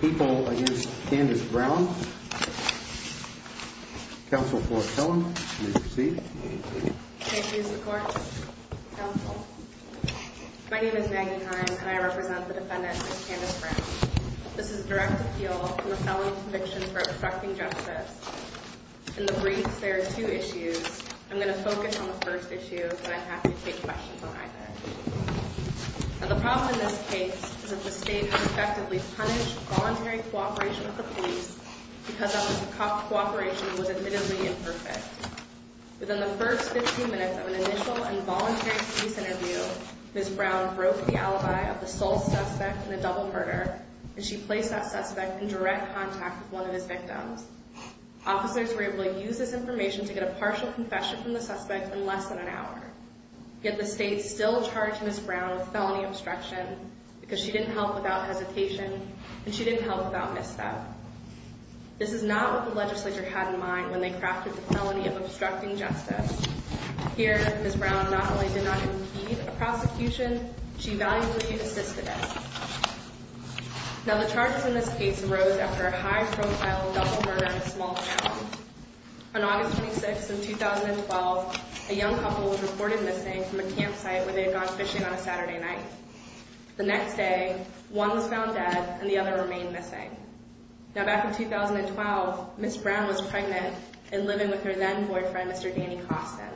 People against Candace Brown. Counsel for a felon, you may proceed. Thank you, Your Honor. My name is Maggie Hines and I represent the defendant, Ms. Candace Brown. This is a direct appeal from a felon's conviction for obstructing justice. In the briefs, there are two issues. I'm going to focus on the first issue, but I have to take questions on either. Now, the problem in this case is that the state has effectively punished voluntary cooperation with the police because that cooperation was admittedly imperfect. Within the first 15 minutes of an initial and voluntary police interview, Ms. Brown broke the alibi of the sole suspect in a double murder, and she placed that suspect in direct contact with one of his victims. Officers were able to use this information to get a partial confession from the suspect in less than an hour. Yet the state still charged Ms. Brown with felony obstruction because she didn't help without hesitation, and she didn't help without misstep. This is not what the legislature had in mind when they crafted the felony of obstructing justice. Here, Ms. Brown not only did not impede a prosecution, she valiantly assisted it. Now, the charges in this case arose after a high-profile double murder in a small town. On August 26th of 2012, a young couple was reported missing from a campsite where they had gone fishing on a Saturday night. The next day, one was found dead and the other remained missing. Now, back in 2012, Ms. Brown was pregnant and living with her then-boyfriend, Mr. Danny Costin.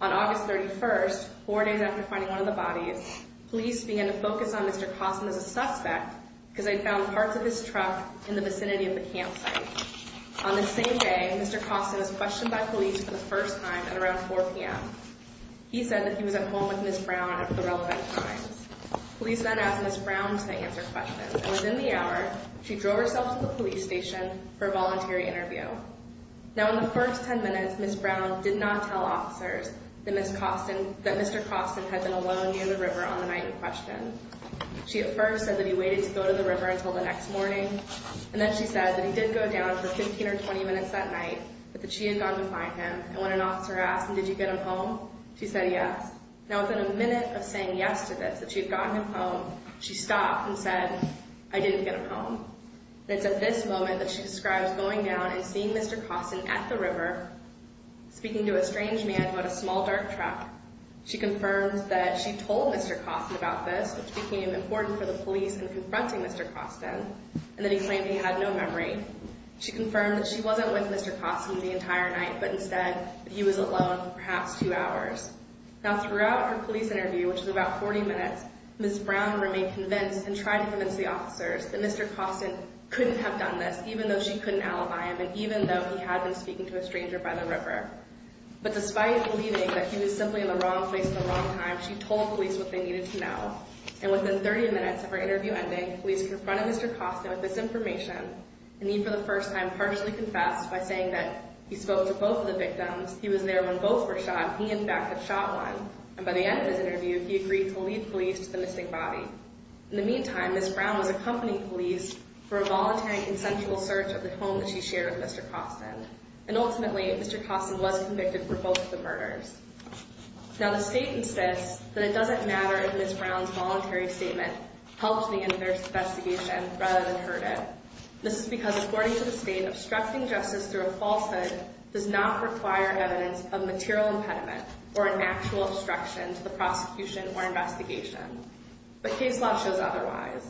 On August 31st, four days after finding one of the bodies, police began to focus on Mr. Costin as a suspect because they found parts of his truck in the vicinity of the campsite. On the same day, Mr. Costin was questioned by police for the first time at around 4 p.m. He said that he was at home with Ms. Brown at the relevant times. Police then asked Ms. Brown to answer questions, and within the hour, she drove herself to the police station for a voluntary interview. Now, in the first 10 minutes, Ms. Brown did not tell officers that Mr. Costin had been alone near the river on the night in question. She at first said that he waited to go to the river until the next morning, and then she said that he did go down for 15 or 20 minutes that night, but that she had gone to find him. And when an officer asked, did you get him home, she said yes. Now, within a minute of saying yes to this, that she had gotten him home, she stopped and said, I didn't get him home. And it's at this moment that she describes going down and seeing Mr. Costin at the river, speaking to a strange man about a small dark truck. She confirms that she told Mr. Costin about this, which became important for the police in confronting Mr. Costin, and then he claimed he had no memory. She confirmed that she wasn't with Mr. Costin the entire night, but instead that he was alone for perhaps two hours. Now, throughout her police interview, which was about 40 minutes, Ms. Brown remained convinced and tried to convince the officers that Mr. Costin couldn't have done this, even though she couldn't alibi him, and even though he had been speaking to a stranger by the river. But despite believing that he was simply in the wrong place at the wrong time, she told police what they needed to know. And within 30 minutes of her interview ending, police confronted Mr. Costin with this information, and he, for the first time, partially confessed by saying that he spoke to both of the victims. He was there when both were shot. He, in fact, had shot one. And by the end of his interview, he agreed to leave police to the missing body. In the meantime, Ms. Brown was accompanying police for a voluntary consensual search of the home that she shared with Mr. Costin. And ultimately, Mr. Costin was convicted for both of the murders. Now, the state insists that it doesn't matter if Ms. Brown's voluntary statement helped the investigation rather than hurt it. This is because, according to the state, obstructing justice through a falsehood does not require evidence of material impediment or an actual obstruction to the prosecution or investigation. But case law shows otherwise.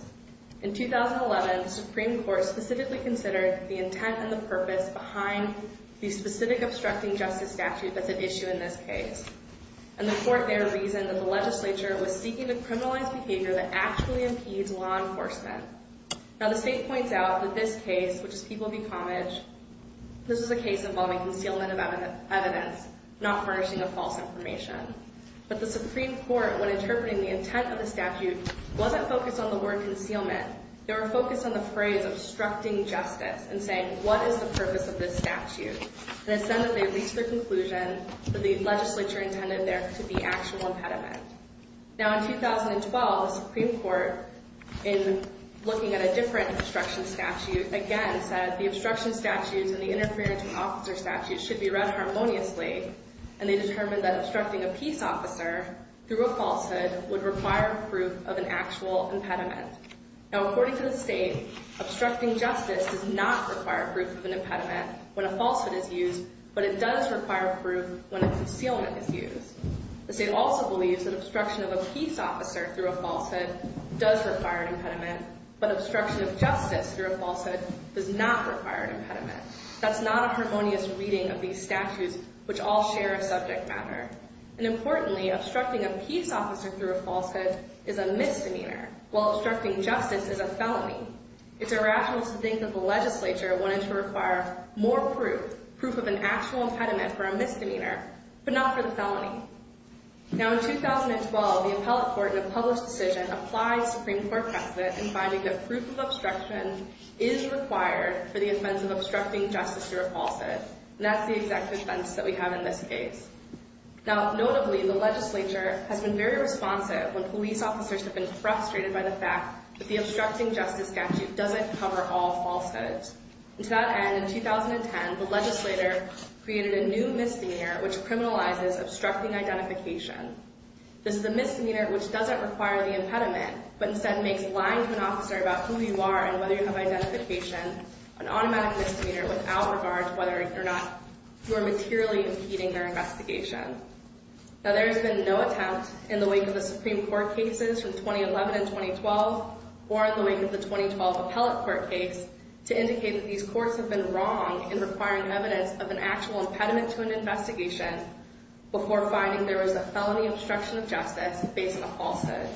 In 2011, the Supreme Court specifically considered the intent and the purpose behind the specific obstructing justice statute that's at issue in this case. And the court there reasoned that the legislature was seeking to criminalize behavior that actually impedes law enforcement. Now, the state points out that this case, which is People v. Comage, this was a case involving concealment of evidence, not furnishing of false information. But the Supreme Court, when interpreting the intent of the statute, wasn't focused on the word concealment. They were focused on the phrase obstructing justice and saying, what is the purpose of this statute? And it's then that they reached the conclusion that the legislature intended there to be actual impediment. Now, in 2012, the Supreme Court, in looking at a different obstruction statute, again said the obstruction statutes and the interference in officer statutes should be read harmoniously. And they determined that obstructing a peace officer through a falsehood would require proof of an actual impediment. Now, according to the state, obstructing justice does not require proof of an impediment when a falsehood is used, but it does require proof when a concealment is used. The state also believes that obstruction of a peace officer through a falsehood does require an impediment, but obstruction of justice through a falsehood does not require an impediment. That's not a harmonious reading of these statutes, which all share a subject matter. And importantly, obstructing a peace officer through a falsehood is a misdemeanor, while obstructing justice is a felony. It's irrational to think that the legislature wanted to require more proof, proof of an actual impediment for a misdemeanor, but not for the felony. Now, in 2012, the appellate court in a published decision applied Supreme Court precedent in finding that proof of obstruction is required for the offense of obstructing justice through a falsehood. And that's the exact offense that we have in this case. Now, notably, the legislature has been very responsive when police officers have been frustrated by the fact that the obstructing justice statute doesn't cover all falsehoods. And to that end, in 2010, the legislator created a new misdemeanor, which criminalizes obstructing identification. This is a misdemeanor which doesn't require the impediment, but instead makes lying to an officer about who you are and whether you have identification an automatic misdemeanor without regard to whether or not you are materially impeding their investigation. Now, there has been no attempt in the wake of the Supreme Court cases from 2011 and 2012, or in the wake of the 2012 appellate court case, to indicate that these courts have been wrong in requiring evidence of an actual impediment to an investigation before finding there was a felony obstruction of justice based on a falsehood.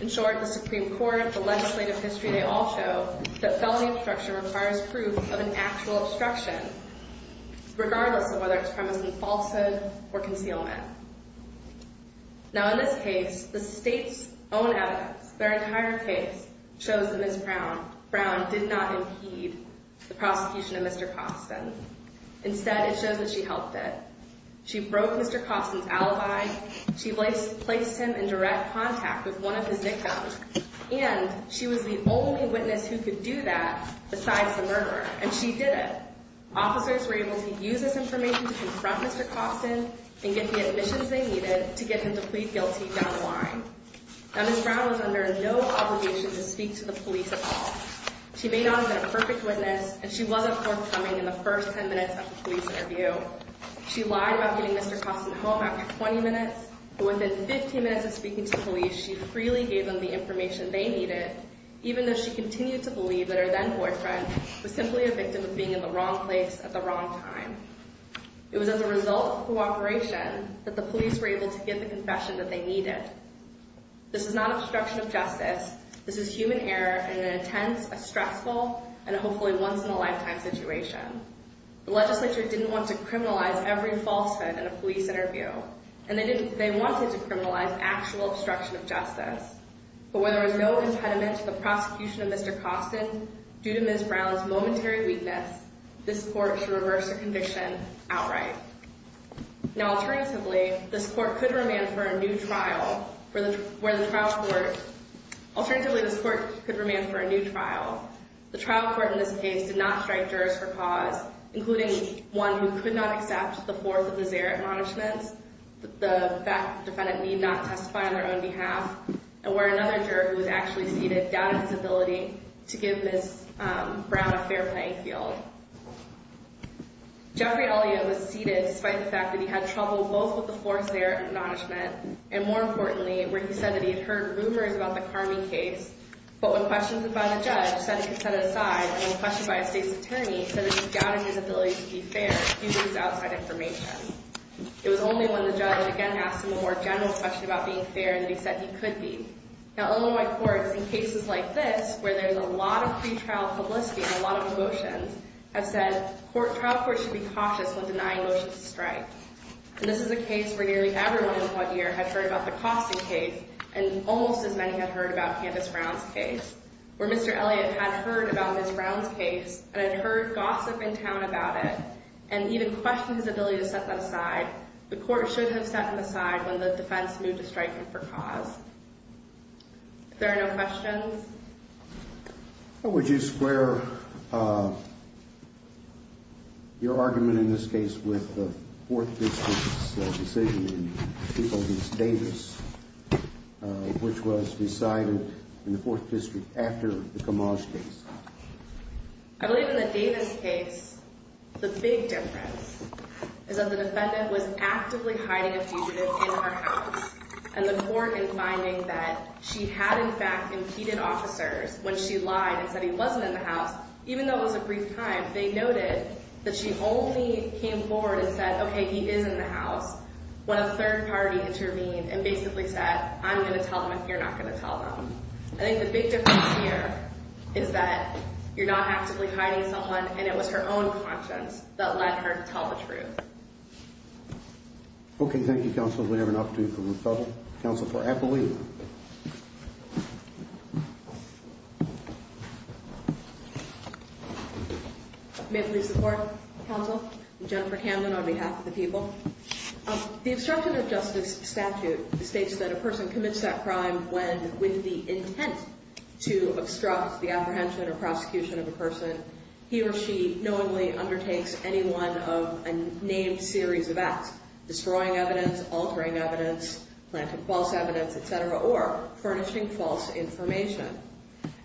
In short, the Supreme Court, the legislative history, they all show that felony obstruction requires proof of an actual obstruction, regardless of whether it's premised on falsehood or concealment. Now, in this case, the state's own evidence, their entire case, shows that Ms. Brown did not impede the prosecution of Mr. Costin. Instead, it shows that she helped it. She broke Mr. Costin's alibi. She placed him in direct contact with one of his nicknames. And she was the only witness who could do that besides the murderer, and she did it. Officers were able to use this information to confront Mr. Costin and get the admissions they needed to get him to plead guilty down the line. Now, Ms. Brown was under no obligation to speak to the police at all. She may not have been a perfect witness, and she wasn't forthcoming in the first 10 minutes of the police interview. She lied about getting Mr. Costin home after 20 minutes, but within 15 minutes of speaking to the police, she freely gave them the information they needed, even though she continued to believe that her then-boyfriend was simply a victim of being in the wrong place at the wrong time. It was as a result of cooperation that the police were able to get the confession that they needed. This is not obstruction of justice. This is human error in an intense, a stressful, and hopefully once-in-a-lifetime situation. The legislature didn't want to criminalize every falsehood in a police interview, and they wanted to criminalize actual obstruction of justice. But where there was no impediment to the prosecution of Mr. Costin, due to Ms. Brown's momentary weakness, this court should reverse the conviction outright. Now, alternatively, this court could remand for a new trial. The trial court in this case did not strike jurors for cause, including one who could not accept the fourth of the Zaret acknowledgements, the fact that the defendant need not testify on their own behalf, and where another juror who was actually seated doubted his ability to give Ms. Brown a fair playing field. Jeffrey Elliot was seated despite the fact that he had trouble both with the fourth Zaret acknowledgement, and more importantly, where he said that he had heard rumors about the Carmi case, but when questioned by the judge, said he could set it aside, and when questioned by a state's attorney, said that he doubted his ability to be fair, he used outside information. It was only when the judge again asked him a more general question about being fair that he said he could be. Now, Illinois courts, in cases like this, where there's a lot of pretrial publicity and a lot of emotions, have said trial courts should be cautious when denying motions to strike. And this is a case where nearly everyone in one year had heard about the Costin case, and almost as many had heard about Candace Brown's case, where Mr. Elliot had heard about Ms. Brown's case, and had heard gossip in town about it, and even questioned his ability to set that aside. The court should have set him aside when the defense moved to strike him for cause. If there are no questions? How would you square your argument in this case with the 4th District's decision in Peoples v. Davis, which was decided in the 4th District after the Camage case? I believe in the Davis case, the big difference is that the defendant was actively hiding a fugitive in her house, and the court, in finding that she had, in fact, impeded officers when she lied and said he wasn't in the house, even though it was a brief time, they noted that she only came forward and said, okay, he is in the house, when a third party intervened and basically said, I'm going to tell them if you're not going to tell them. I think the big difference here is that you're not actively hiding someone, and it was her own conscience that let her tell the truth. Okay, thank you, counsel. We have an opportunity for referral. Counsel for Appley. May I please report, counsel? Jennifer Camden on behalf of the people. The obstruction of justice statute states that a person commits that crime when, he or she knowingly undertakes any one of a named series of acts, destroying evidence, altering evidence, planting false evidence, et cetera, or furnishing false information.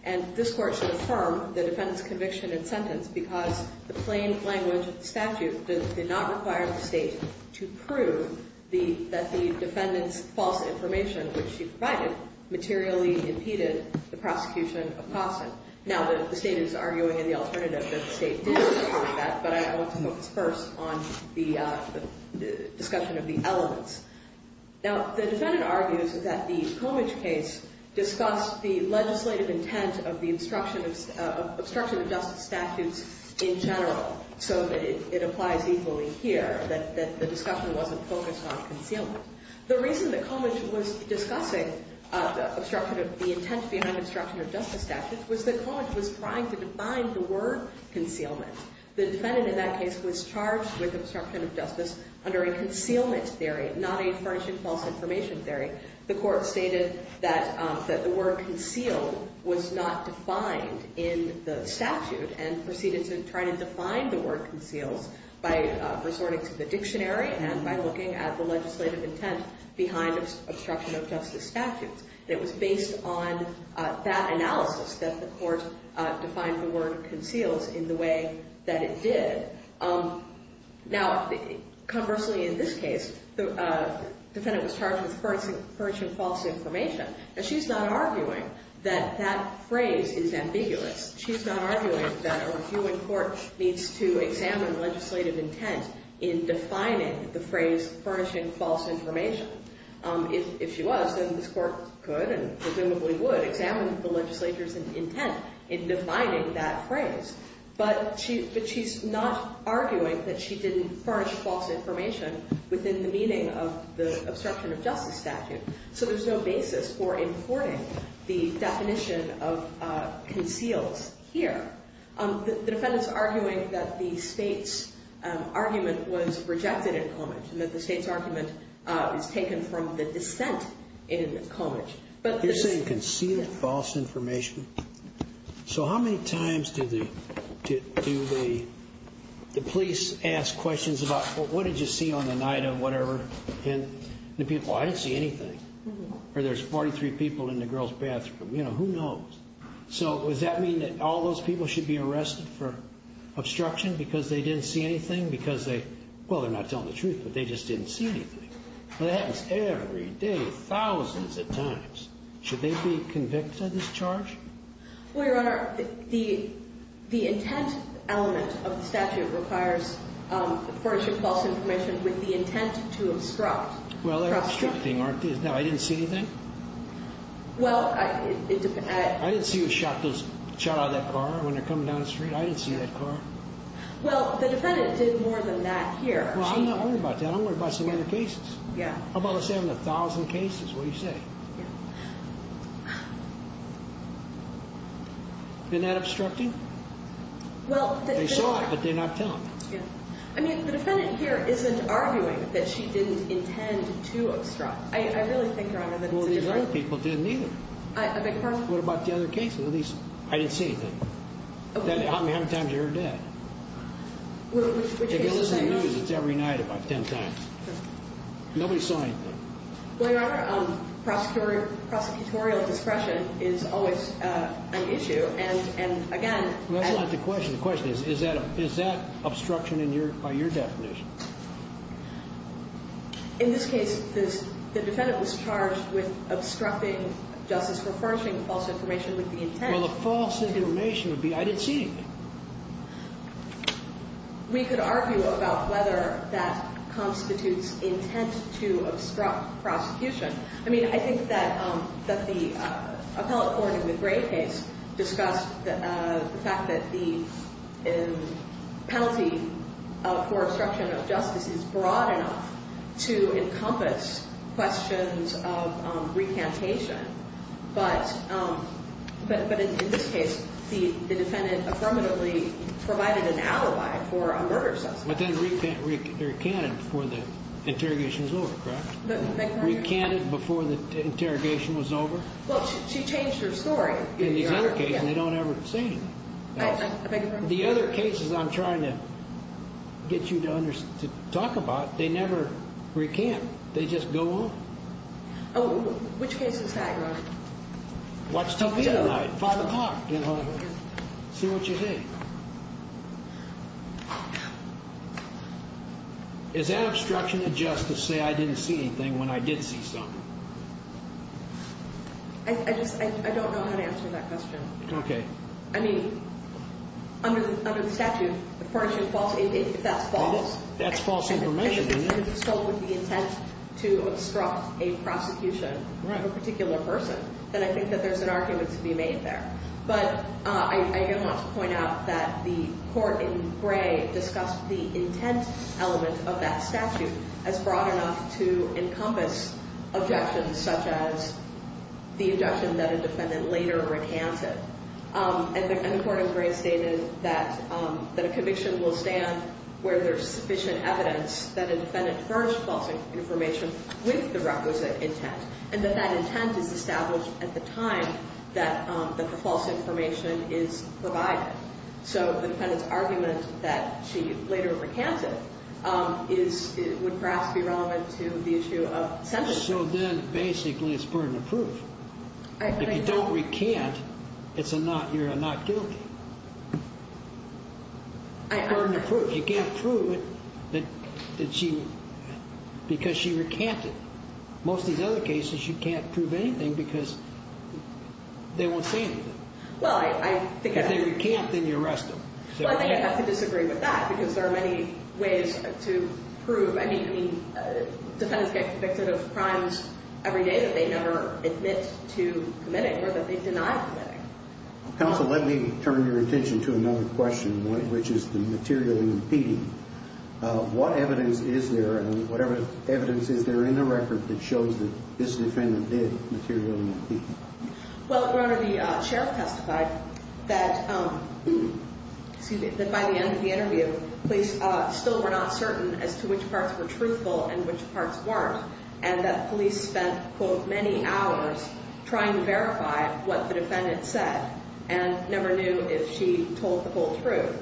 And this court should affirm the defendant's conviction and sentence, because the plain language statute did not require the state to prove that the defendant's false information, which she provided, materially impeded the prosecution of Costin. Now, the state is arguing in the alternative that the state did require that, but I want to focus first on the discussion of the elements. Now, the defendant argues that the Comidge case discussed the legislative intent of the obstruction of justice statutes in general, so that it applies equally here, that the discussion wasn't focused on concealment. The reason that Comidge was discussing the intent behind the obstruction of justice statute was that Comidge was trying to define the word concealment. The defendant in that case was charged with obstruction of justice under a concealment theory, not a furnishing false information theory. The court stated that the word concealed was not defined in the statute and proceeded to try to define the word conceals by resorting to the dictionary and by looking at the legislative intent behind obstruction of justice statutes. And it was based on that analysis that the court defined the word conceals in the way that it did. Now, conversely, in this case, the defendant was charged with furnishing false information. Now, she's not arguing that that phrase is ambiguous. She's not arguing that a reviewing court needs to examine legislative intent in defining the phrase furnishing false information. If she was, then this court could and presumably would examine the legislature's intent in defining that phrase. But she's not arguing that she didn't furnish false information within the meaning of the obstruction of justice statute. So there's no basis for importing the definition of conceals here. The defendant's arguing that the State's argument was rejected in Comidge and that the State's argument is taken from the dissent in Comidge. But this is- You're saying concealed false information? So how many times did the police ask questions about, well, what did you see on the night of whatever? And the people, I didn't see anything. Or there's 43 people in the girls' bathroom. You know, who knows? So does that mean that all those people should be arrested for obstruction because they didn't see anything? Because they, well, they're not telling the truth, but they just didn't see anything. That happens every day, thousands of times. Should they be convicted of this charge? Well, Your Honor, the intent element of the statute requires furnishing false information with the intent to obstruct. Well, they're obstructing, aren't they? No, I didn't see anything? Well, I- I didn't see a shot out of that car when they're coming down the street. I didn't see that car. Well, the defendant did more than that here. Well, I'm not worried about that. I'm worried about some other cases. Yeah. How about the 7,000 cases? What do you say? Yeah. Isn't that obstructing? Well, the defendant- They saw it, but they're not telling. Yeah. I mean, the defendant here isn't arguing that she didn't intend to obstruct. I really think, Your Honor, that it's a good thing. Well, these other people didn't either. I beg your pardon? What about the other cases? At least, I didn't see anything. Okay. How many times have you heard that? If you listen to the news, it's every night about 10 times. Nobody saw anything. Well, Your Honor, prosecutorial discretion is always an issue. And, again- That's not the question. The question is, is that obstruction by your definition? In this case, the defendant was charged with obstructing justice for furnishing false information with the intent- Well, the false information would be, I didn't see anything. We could argue about whether that constitutes intent to obstruct prosecution. I mean, I think that the appellate court in the Gray case discussed the fact that the penalty for obstruction of justice is broad enough to encompass questions of recantation. But, in this case, the defendant affirmatively provided an alibi for a murder suspect. But then recanted before the interrogation was over, correct? Recanted before the interrogation was over? Well, she changed her story. In these other cases, they don't ever say anything. I beg your pardon? The other cases I'm trying to get you to talk about, they never recant. They just go on. Oh, which case is that, Your Honor? What's Tompino night? 5 o'clock. See what you think. Is that obstruction of justice to say I didn't see anything when I did see something? I just, I don't know how to answer that question. Okay. I mean, under the statute, furnishing false, if that's false- That's false information, isn't it? If it's filled with the intent to obstruct a prosecution of a particular person, then I think that there's an argument to be made there. But I do want to point out that the court in Gray discussed the intent element of that statute as broad enough to encompass objections such as the objection that a defendant later recanted. And the court in Gray stated that a conviction will stand where there's sufficient evidence that a defendant furnished false information with the requisite intent, and that that intent is established at the time that the false information is provided. So the defendant's argument that she later recanted would perhaps be relevant to the issue of sentencing. So then basically it's burden of proof. If you don't recant, you're not guilty. It's burden of proof. You can't prove it because she recanted. Most of these other cases, you can't prove anything because they won't say anything. Well, I think- If they recant, then you arrest them. Well, I think I'd have to disagree with that because there are many ways to prove. I mean, defendants get convicted of crimes every day that they never admit to committing or that they deny committing. Counsel, let me turn your attention to another question, which is the material and impeding. What evidence is there and whatever evidence is there in the record that shows that this defendant did material and impeding? Well, Your Honor, the sheriff testified that by the end of the interview, police still were not certain as to which parts were truthful and which parts weren't, and that police spent, quote, many hours trying to verify what the defendant said and never knew if she told the whole truth.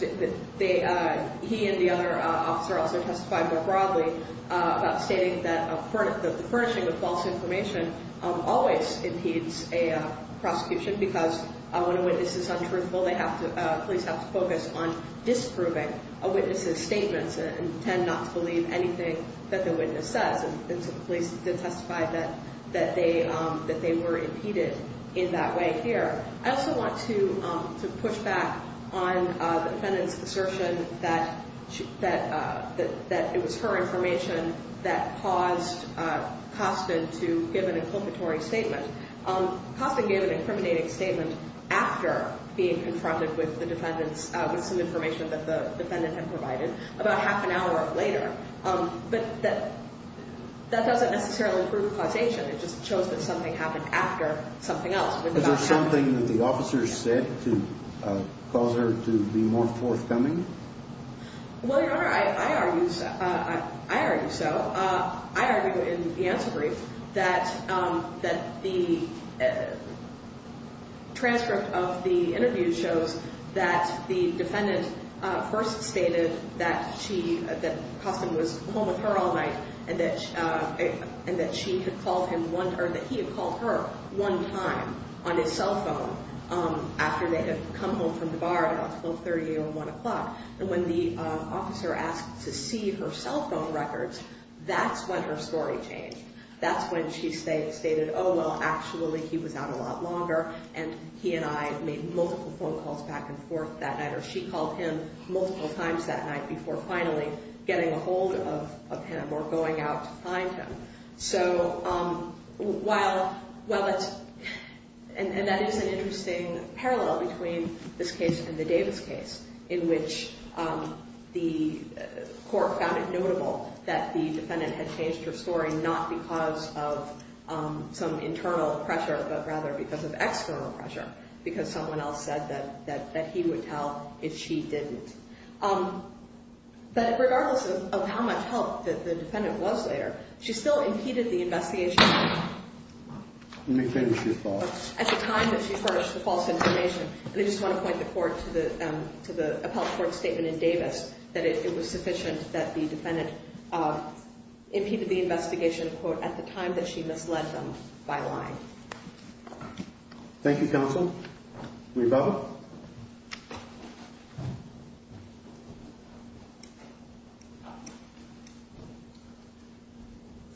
He and the other officer also testified more broadly about stating that the furnishing of false information always impedes a prosecution because when a witness is untruthful, they have to- police have to focus on disproving a witness's statements and tend not to believe anything that the witness says. And so the police did testify that they were impeded in that way here. I also want to push back on the defendant's assertion that it was her information that caused Costin to give an inculpatory statement. Costin gave an incriminating statement after being confronted with the defendant's- with some information that the defendant had provided about half an hour later. But that doesn't necessarily prove causation. It just shows that something happened after something else. Was there something that the officer said to cause her to be more forthcoming? Well, Your Honor, I argue- I argue so. I argue in the answer brief that the transcript of the interview shows that the defendant first stated that she- that Costin was home with her all night and that she had called him one- or that he had called her one time on his cell phone after they had come home from the bar at about 12.30 or 1 o'clock. And when the officer asked to see her cell phone records, that's when her story changed. That's when she stated, oh, well, actually he was out a lot longer and he and I made multiple phone calls back and forth that night, or she called him multiple times that night before finally getting a hold of him or going out to find him. So while- well, it's- and that is an interesting parallel between this case and the Davis case in which the court found it notable that the defendant had changed her story not because of some internal pressure but rather because of external pressure because someone else said that he would tell if she didn't. But regardless of how much help the defendant was there, she still impeded the investigation. Let me finish your thought. At the time that she furnished the false information, and I just want to point the court to the appellate court statement in Davis that it was sufficient that the defendant impeded the investigation at the time that she misled them by lying. Thank you, counsel. Rebecca?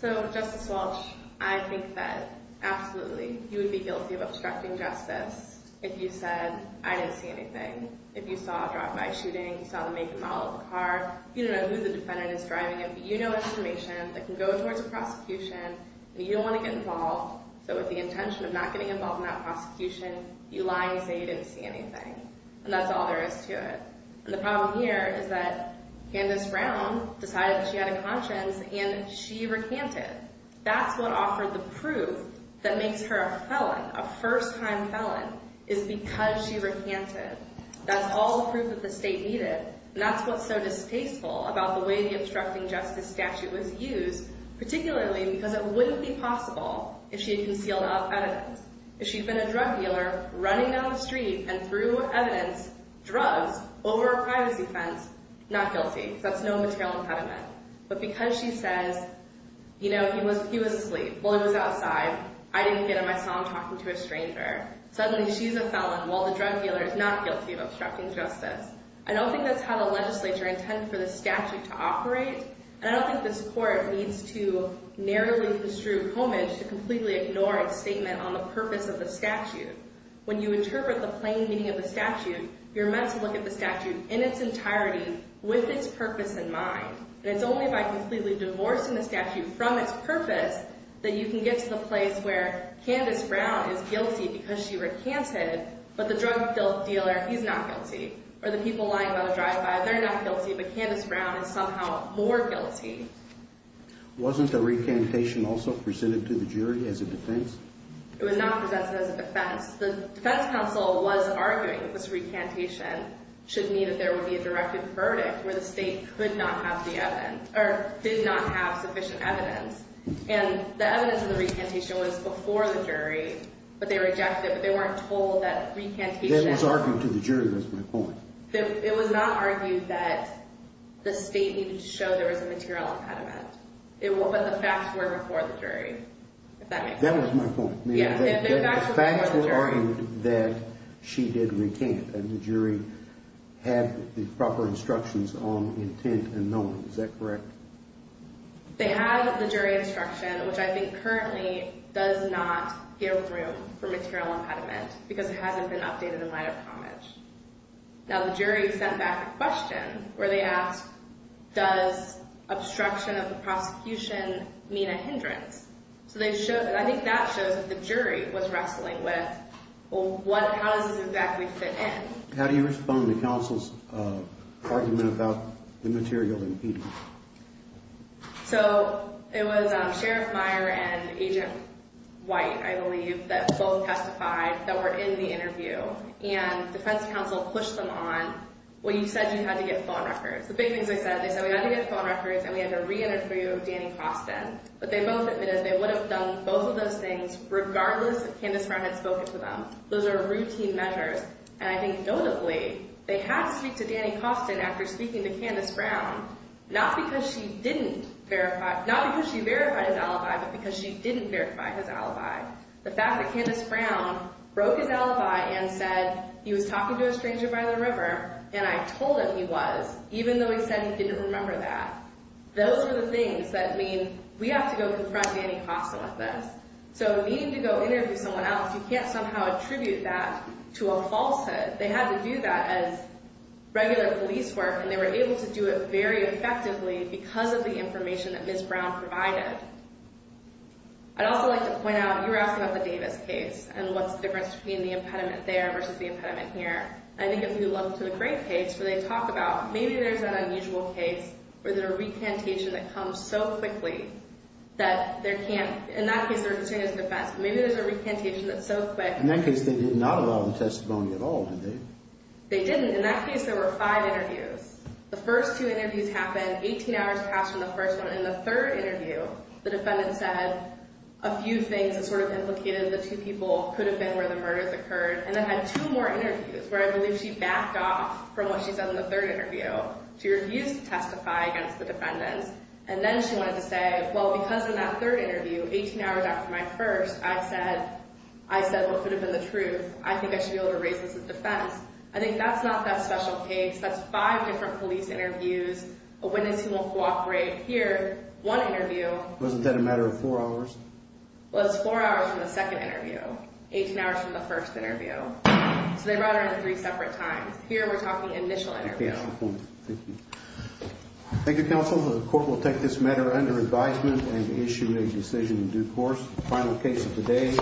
So, Justice Walsh, I think that absolutely you would be guilty of obstructing justice if you said, I didn't see anything. If you saw a drive-by shooting, you saw the make and model of a car, you don't know who the defendant is driving in, but you know information that can go towards a prosecution, and you don't want to get involved. So with the intention of not getting involved in that prosecution, you lie and say you didn't see anything. And that's all there is to it. And the problem here is that Candace Brown decided that she had a conscience and she recanted. That's what offered the proof that makes her a felon, a first-time felon, is because she recanted. That's all the proof that the state needed, and that's what's so distasteful about the way the obstructing justice statute was used, particularly because it wouldn't be possible if she had concealed enough evidence. If she'd been a drug dealer running down the street and threw evidence, drugs, over a privacy fence, not guilty. That's no material impediment. But because she says, you know, he was asleep. Well, he was outside. I didn't get him. I saw him talking to a stranger. Suddenly, she's a felon, while the drug dealer is not guilty of obstructing justice. I don't think that's how the legislature intended for the statute to operate, and I don't think this court needs to narrowly construe homage to completely ignore a statement on the purpose of the statute. When you interpret the plain meaning of the statute, you're meant to look at the statute in its entirety with its purpose in mind. And it's only by completely divorcing the statute from its purpose that you can get to the place where Candace Brown is guilty because she recanted, but the drug dealer, he's not guilty. Or the people lying by the drive-by, they're not guilty, but Candace Brown is somehow more guilty. Wasn't the recantation also presented to the jury as a defense? It was not presented as a defense. The defense counsel was arguing that this recantation should mean that there would be a directed verdict where the state could not have the evidence or did not have sufficient evidence. And the evidence in the recantation was before the jury, but they rejected it, but they weren't told that recantation... It was argued to the jury. That's my point. It was not argued that the state needed to show there was a material impediment, but the facts were before the jury, if that makes sense. That was my point. The facts were argued that she did recant, and the jury had the proper instructions on intent and knowing. Is that correct? They had the jury instruction, which I think currently does not give room for material impediment because it hasn't been updated in light of homage. Now, the jury sent back a question where they asked, does obstruction of the prosecution mean a hindrance? So I think that shows that the jury was wrestling with, well, how does this exactly fit in? How do you respond to counsel's argument about the material impediment? So it was Sheriff Meyer and Agent White, I believe, that both testified that were in the interview, and defense counsel pushed them on, well, you said you had to get phone records. The big things they said, they said, we had to get phone records and we had to re-interview Danny Costin. But they both admitted they would have done both of those things regardless if Candace Brown had spoken to them. Those are routine measures. And I think notably, they had to speak to Danny Costin after speaking to Candace Brown, not because she verified his alibi, but because she didn't verify his alibi. The fact that Candace Brown broke his alibi and said, he was talking to a stranger by the river, and I told him he was, even though he said he didn't remember that. Those are the things that mean we have to go confront Danny Costin with this. So needing to go interview someone else, you can't somehow attribute that to a falsehood. They had to do that as regular police work, and they were able to do it very effectively because of the information that Ms. Brown provided. I'd also like to point out, you were asking about the Davis case and what's the difference between the impediment there versus the impediment here. I think if you look to the Graves case, where they talk about, maybe there's that unusual case where there's a recantation that comes so quickly that there can't, in that case, they're pursuing it as a defense, but maybe there's a recantation that's so quick. In that case, they did not allow them testimony at all, did they? They didn't. In that case, there were five interviews. The first two interviews happened, 18 hours passed from the first one. In the third interview, the defendant said a few things that sort of implicated the two people could have been where the murders occurred, and then had two more interviews, where I believe she backed off from what she said in the third interview. She refused to testify against the defendants, and then she wanted to say, well, because in that third interview, 18 hours after my first, I said what could have been the truth. I think I should be able to raise this as defense. I think that's not that special case. That's five different police interviews. A witness who will cooperate here, one interview. Wasn't that a matter of four hours? Well, it was four hours from the second interview, 18 hours from the first interview. So they brought her in at three separate times. Here, we're talking initial interview. Thank you. Thank you, counsel. The court will take this matter under advisement and issue a decision in due course. Final case of the day.